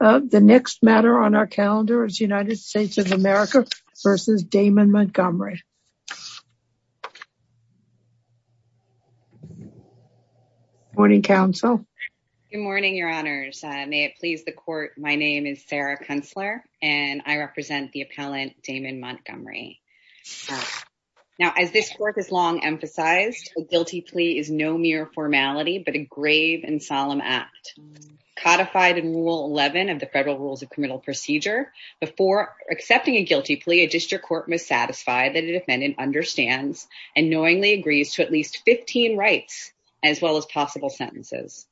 of the next matter on our calendar is United States of America v. Damon Montgomery. Good morning, your honors. May it please the court, my name is Sarah Kunstler and I represent the appellant, Damon Montgomery. As this court has long emphasized, a guilty plea is no mere federal rules of criminal procedure. Before accepting a guilty plea, a district court must satisfy that a defendant understands and knowingly agrees to at least 15 rights as well as possible sentences.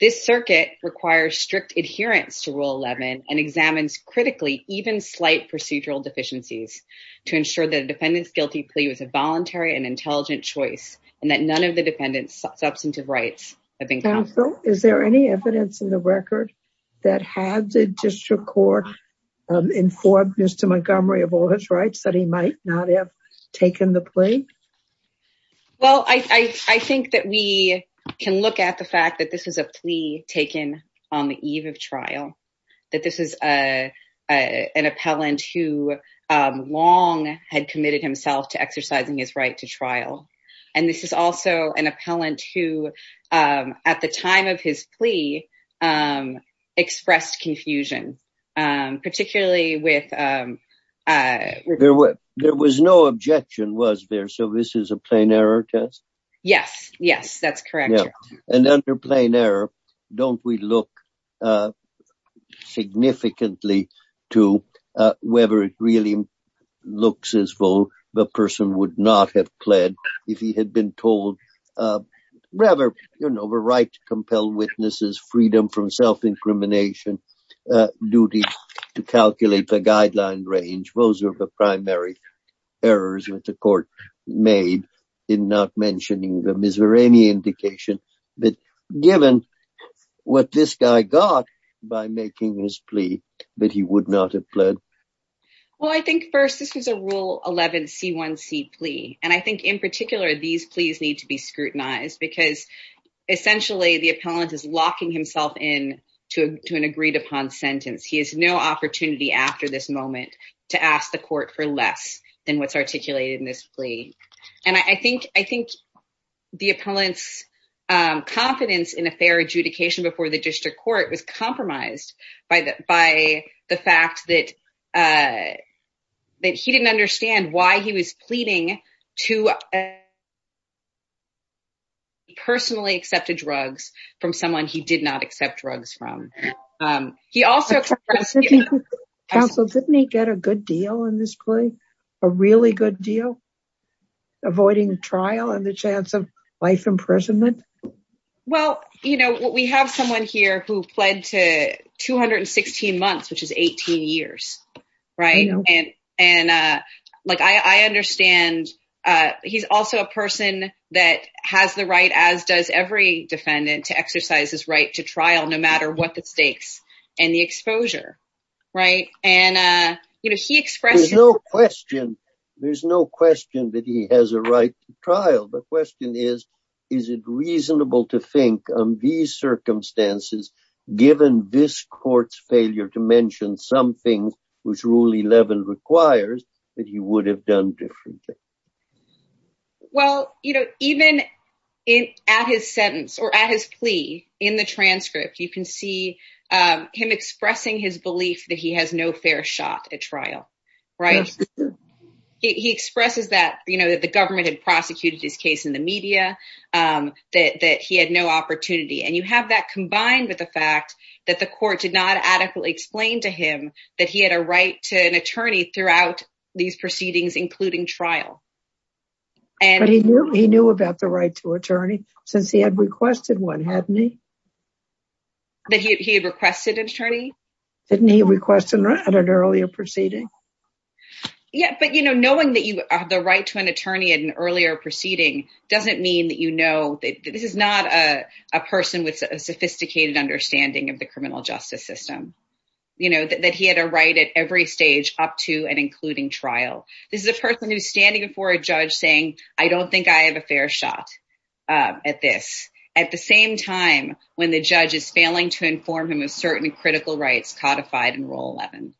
This circuit requires strict adherence to rule 11 and examines critically even slight procedural deficiencies to ensure that a defendant's guilty plea was a voluntary and intelligent choice and that none of the defendant's substantive rights have been counted. Counsel, is there any evidence in the record that had the district court informed Mr. Montgomery of all his rights that he might not have taken the plea? Well, I think that we can look at the fact that this is a plea taken on the eve of trial, that this is an appellant who long had committed himself to exercising his right to trial, and this is also an appellant who at the time of his plea expressed confusion, particularly with There was no objection, was there? So this is a plain error test? Yes, yes, that's correct. And under plain error, don't we look significantly to whether it really looks as though the person would not have pled if he had been told rather, you know, the right to compel witnesses, freedom from self-incrimination, duty to calculate the guideline range. Those are the primary errors that the court made in not by making his plea that he would not have pled. Well, I think first, this is a rule 11 C1C plea. And I think in particular, these pleas need to be scrutinized because essentially the appellant is locking himself in to an agreed upon sentence. He has no opportunity after this moment to ask the court for less than what's articulated in this plea. And I think the appellant's confidence in a fair adjudication before the district court was compromised by the fact that he didn't understand why he was pleading to personally accepted drugs from someone he did not accept drugs from. Counsel, didn't he get a good deal in this plea? A really good deal? Avoiding trial and the chance of life imprisonment? Well, you know, we have someone here who pled to 216 months, which is 18 years. Right. And, and like I understand, he's also a person that has the right, as does every defendant to exercise his right to trial, no matter what the stakes and the exposure. Right. And, you know, he expressed no question. There's no question that he has a right to trial. The question is, is it reasonable to think on these circumstances, given this court's failure to mention something which rule 11 requires that he would have done differently? Well, you know, even in at his sentence or at his plea in the transcript, you can see him expressing his belief that he has no fair shot at trial. Right. He expresses that, you know, that the government had prosecuted his case in the media, that he had no opportunity. And you have that combined with the fact that the court did not adequately explain to him that he had a right to an attorney throughout these proceedings, including trial. And he knew he knew about the since he had requested one, hadn't he? That he had requested an attorney? Didn't he request an earlier proceeding? Yeah. But, you know, knowing that you have the right to an attorney at an earlier proceeding doesn't mean that, you know, that this is not a person with a sophisticated understanding of the criminal justice system, you know, that he had a right at every stage up to and including trial. This is a person who's standing before a judge saying, I don't think I have a fair shot at this at the same time when the judge is failing to inform him of certain critical rights codified in Rule 11.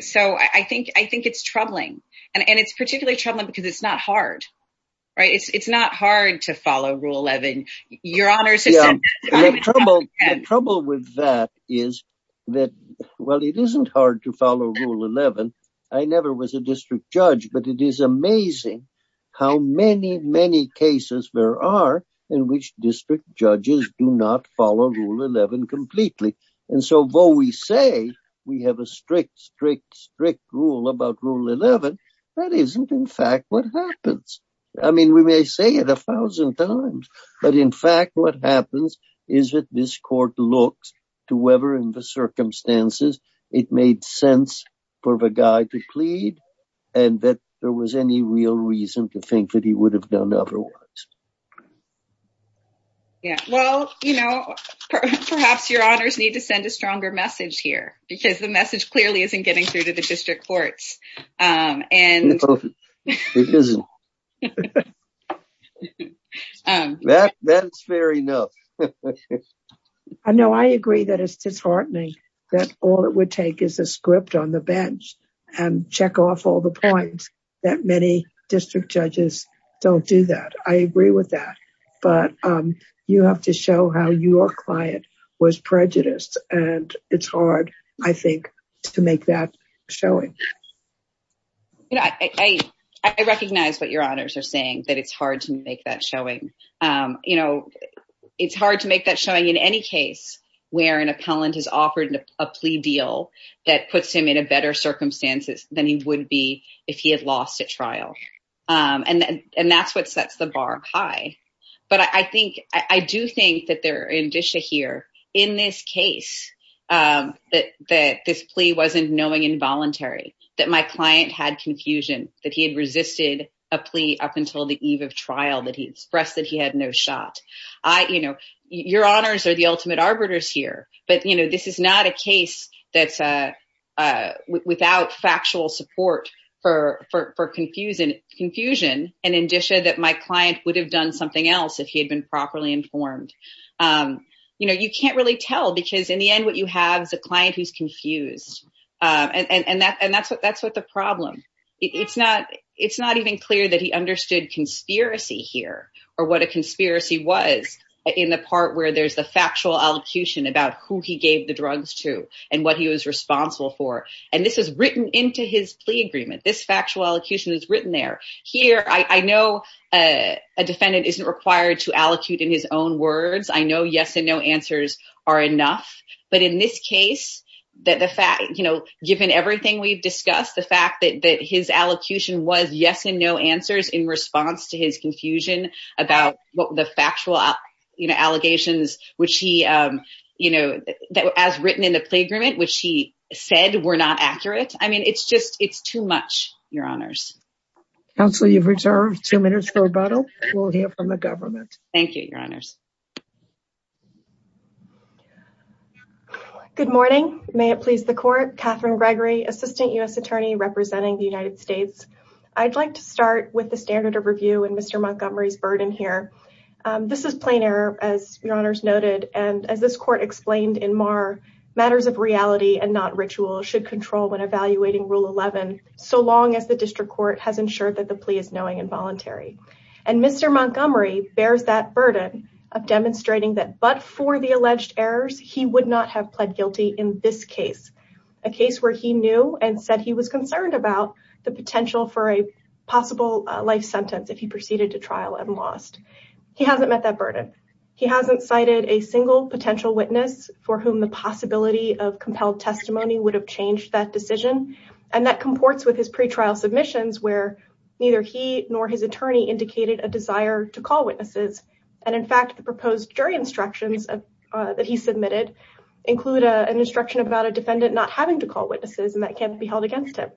So I think I think it's troubling. And it's particularly troubling because it's not hard. Right. It's not hard to follow Rule 11. Your Honor. The trouble with that is that, well, it isn't hard to follow Rule 11. I never was a district judge, but it is amazing how many, many cases there are in which district judges do not follow Rule 11 completely. And so, though we say we have a strict, strict, strict rule about Rule 11, that isn't in fact what happens. I mean, we may say it a thousand times, but in fact, what happens is that this court looks to whether in the circumstances it made sense for the guy to plead and that there was any real reason to think that he would have done otherwise. Yeah, well, you know, perhaps your honors need to send a stronger message here because the message clearly isn't getting through to the district courts. And that's fair enough. I know I agree that it's disheartening that all it would take is a script on the bench and check off all the points that many district judges don't do that. I agree with that. But you have to show how your client was prejudiced. And it's hard, I think, to make that showing. Yeah, I recognize what your honors are saying, that it's hard to make that showing. You know, it's hard to make that showing in any case where an appellant has offered a plea deal that puts him in a better circumstances than he would be if he had lost at trial. And that's what sets the bar high. But I think, I do think that there in Disha here, in this case, that this plea wasn't knowing involuntary, that my client had confusion, that he had resisted a plea up until the eve of trial, that he expressed that he had no shot. I, you know, your honors are the ultimate arbiters here. But, you know, this is not a case that's without factual support for confusion and in Disha that my client would have done something else if he had been properly informed. You know, because in the end, what you have is a client who's confused. And that's what the problem. It's not even clear that he understood conspiracy here or what a conspiracy was in the part where there's the factual allocution about who he gave the drugs to and what he was responsible for. And this was written into his plea agreement. This factual allocution is written there. Here, I know a defendant isn't required to allocate in his own words. I know yes and no answers are enough. But in this case, that the fact, you know, given everything we've discussed, the fact that his allocution was yes and no answers in response to his confusion about what the factual, you know, allegations, which he, you know, that as written in the plea agreement, which he said were not accurate. I mean, it's just it's too much, your honors. Counsel, you've reserved two minutes for rebuttal. We'll hear from the government. Thank you, your honors. Good morning. May it please the court. Catherine Gregory, assistant U.S. attorney representing the United States. I'd like to start with the standard of review and Mr. Montgomery's burden here. This is plain error, as your honors noted. And as this court explained in Marr, matters of reality and not ritual should control when evaluating Rule 11, so long as the district court has ensured that the plea is knowing and voluntary. And Mr. Montgomery bears that burden of demonstrating that but for the alleged errors, he would not have pled guilty in this case, a case where he knew and said he was concerned about the potential for a possible life sentence if he proceeded to trial and lost. He hasn't met that burden. He hasn't cited a single potential witness for whom the possibility of compelled testimony would have changed that decision. And that comports with his a desire to call witnesses. And in fact, the proposed jury instructions that he submitted include an instruction about a defendant not having to call witnesses and that can't be held against him.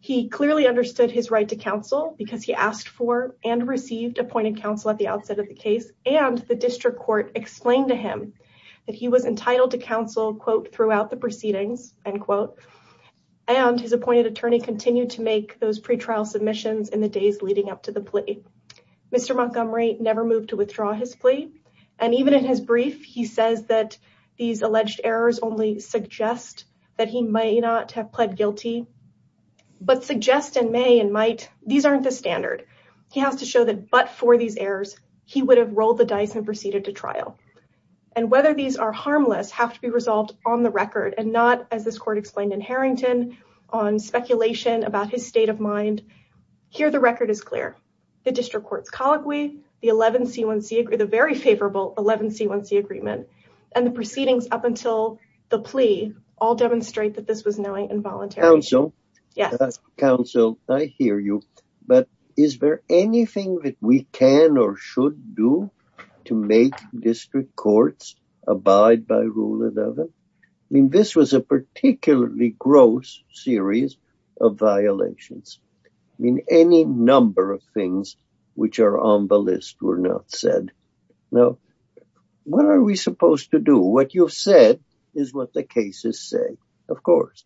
He clearly understood his right to counsel because he asked for and received appointed counsel at the outset of the case. And the district court explained to him that he was entitled to counsel, quote, throughout the proceedings, end quote. And his appointed attorney continued to make those pretrial submissions in the days leading up to the plea. Mr. Montgomery never moved to withdraw his plea. And even in his brief, he says that these alleged errors only suggest that he may not have pled guilty. But suggest and may and might, these aren't the standard. He has to show that but for these errors, he would have rolled the dice and proceeded to trial. And whether these are harmless have to be resolved on the record and not as this court explained in Harrington on speculation about his state of mind. Here, the record is clear. The district court's colloquy, the 11C1C, the very favorable 11C1C agreement and the proceedings up until the plea all demonstrate that this was knowing and voluntary. Counsel. Yes. Counsel, I hear you. But is there anything that we can or should do to make district courts abide by rule 11? I mean, this was a particularly gross series of violations. I mean, any number of things which are on the list were not said. Now, what are we supposed to do? What you've said is what the cases say, of course.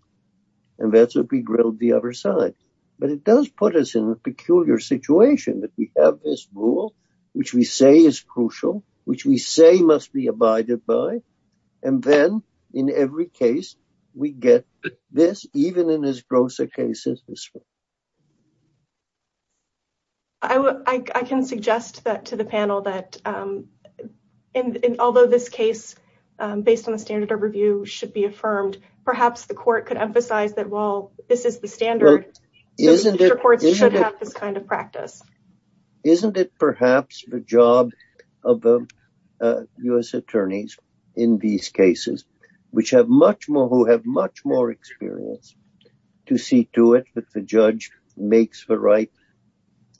And that's what we grilled the other side. But it does put us in a peculiar situation that we have this rule, which we say is crucial, which we say must be abided by. And then in every case, we get this, even in as gross a case as this. I can suggest that to the panel that although this case, based on the standard of review, should be affirmed, perhaps the court could emphasize that while this is the standard, district courts should have this kind of practice. Isn't it perhaps the job of the U.S. attorneys in these cases, who have much more experience, to see to it that the judge makes the right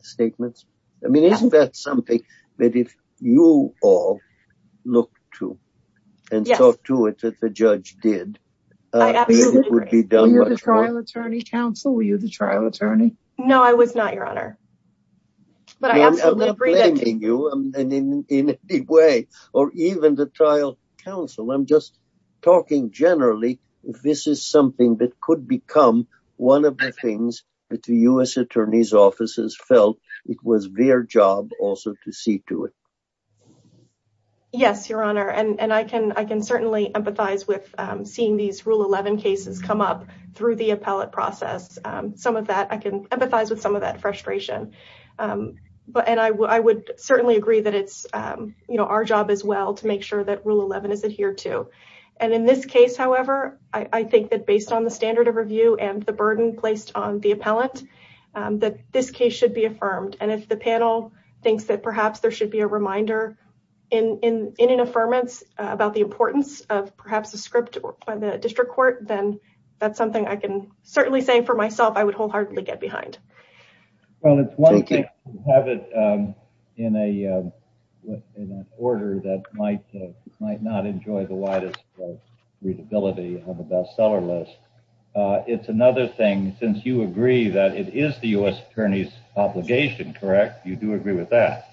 statements? I mean, isn't that something that if you all look to and talk to it that the judge did, it would be done? Were you the trial attorney counsel? Were you the trial attorney? No, I was not, Your Honor. I'm not blaming you in any way, or even the trial counsel. I'm just talking generally, if this is something that could become one of the things that the U.S. attorneys' offices felt it was their job also to see to it. Yes, Your Honor. And I can certainly empathize with seeing these Rule 11 cases come up through the appellate process. I can empathize with some of that frustration. And I would certainly agree that it's our job as well to make sure that Rule 11 is adhered to. And in this case, however, I think that based on the standard of review and the burden placed on the appellant, that this case should be affirmed. And if the panel thinks that perhaps there should be a reminder in an affirmance about the importance of perhaps a script by the district court, then that's something I can certainly say for myself I would wholeheartedly get behind. Well, it's one thing to have it in an order that might not enjoy the widest readability of a bestseller list. It's another thing, since you agree that it is the U.S. attorney's obligation, correct? You do agree with that?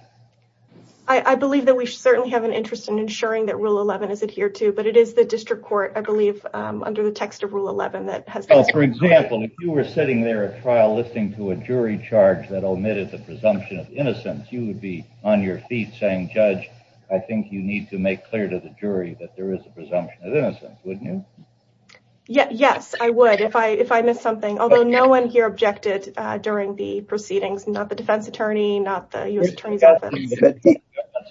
I believe that we certainly have an interest in ensuring that Rule 11 is adhered to, but it is the district court, I believe, under the text of Rule 11 that has... So, for example, if you were sitting there at trial listening to a jury charge that omitted the presumption of innocence, you would be on your feet saying, Judge, I think you need to make clear to the jury that there is a presumption of innocence, wouldn't you? Yes, I would if I missed something. Although no one here objected during the proceedings, not the defense attorney, not the U.S. attorney's office. From that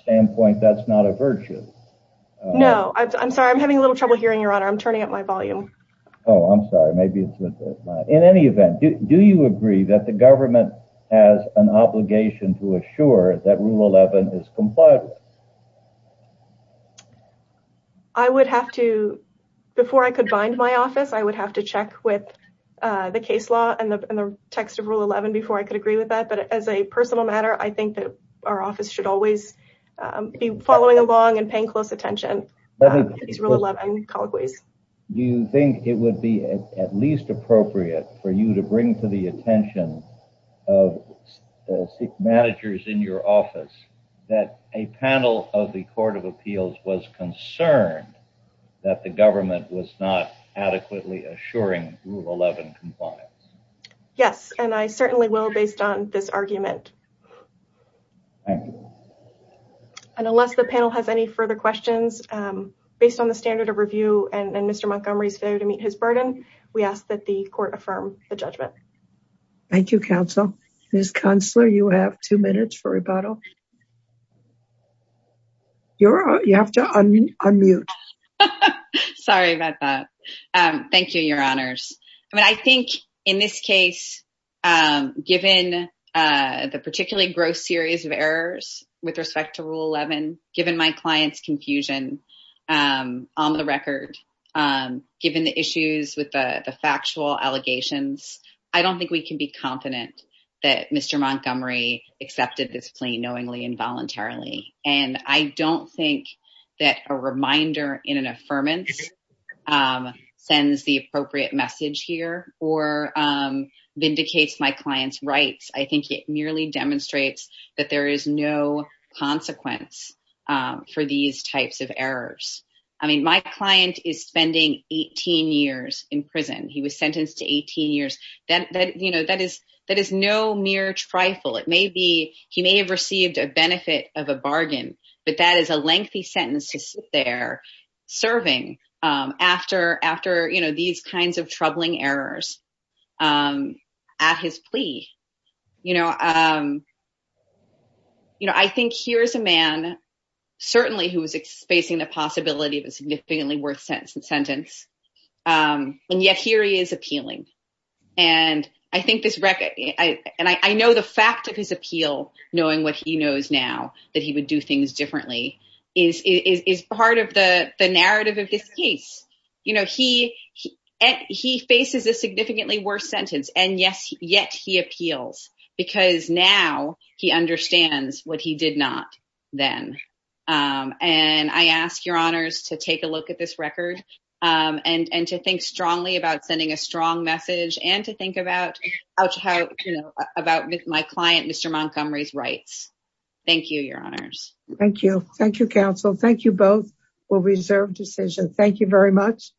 standpoint, that's not a virtue. No, I'm sorry. I'm having a little trouble hearing, Your Honor. I'm turning up my volume. Oh, I'm sorry. In any event, do you agree that the government has an obligation to assure that Rule 11 is complied with? I would have to, before I could bind my office, I would have to check with the case law and the text of Rule 11 before I could agree with that. But as a personal matter, I think that office should always be following along and paying close attention to these Rule 11 colloquies. Do you think it would be at least appropriate for you to bring to the attention of managers in your office that a panel of the Court of Appeals was concerned that the government was not adequately assuring Rule 11 compliance? Yes, and I certainly will based on this argument. Thank you. And unless the panel has any further questions, based on the standard of review and Mr. Montgomery's failure to meet his burden, we ask that the court affirm the judgment. Thank you, counsel. Ms. Künstler, you have two minutes for rebuttal. You have to unmute. Sorry about that. Thank you, Your Honors. I mean, I think in this case, given the gross series of errors with respect to Rule 11, given my client's confusion on the record, given the issues with the factual allegations, I don't think we can be confident that Mr. Montgomery accepted this plea knowingly and voluntarily. And I don't think that a reminder in an affirmance sends the appropriate message here or vindicates my client's rights. I think merely demonstrates that there is no consequence for these types of errors. I mean, my client is spending 18 years in prison. He was sentenced to 18 years. That is no mere trifle. It may be he may have received a benefit of a bargain, but that is a lengthy sentence to sit there serving after these kinds of troubling errors at his plea. I think here's a man certainly who is facing the possibility of a significantly worse sentence. And yet here he is appealing. And I think this record and I know the fact of his appeal, knowing what he knows now that he would do things differently is part of the narrative of this case. You know, he faces a significantly worse sentence and yet he appeals because now he understands what he did not then. And I ask your honors to take a look at this record and to think strongly about sending a Thank you. Thank you, counsel. Thank you. Both will reserve decision. Thank you very much.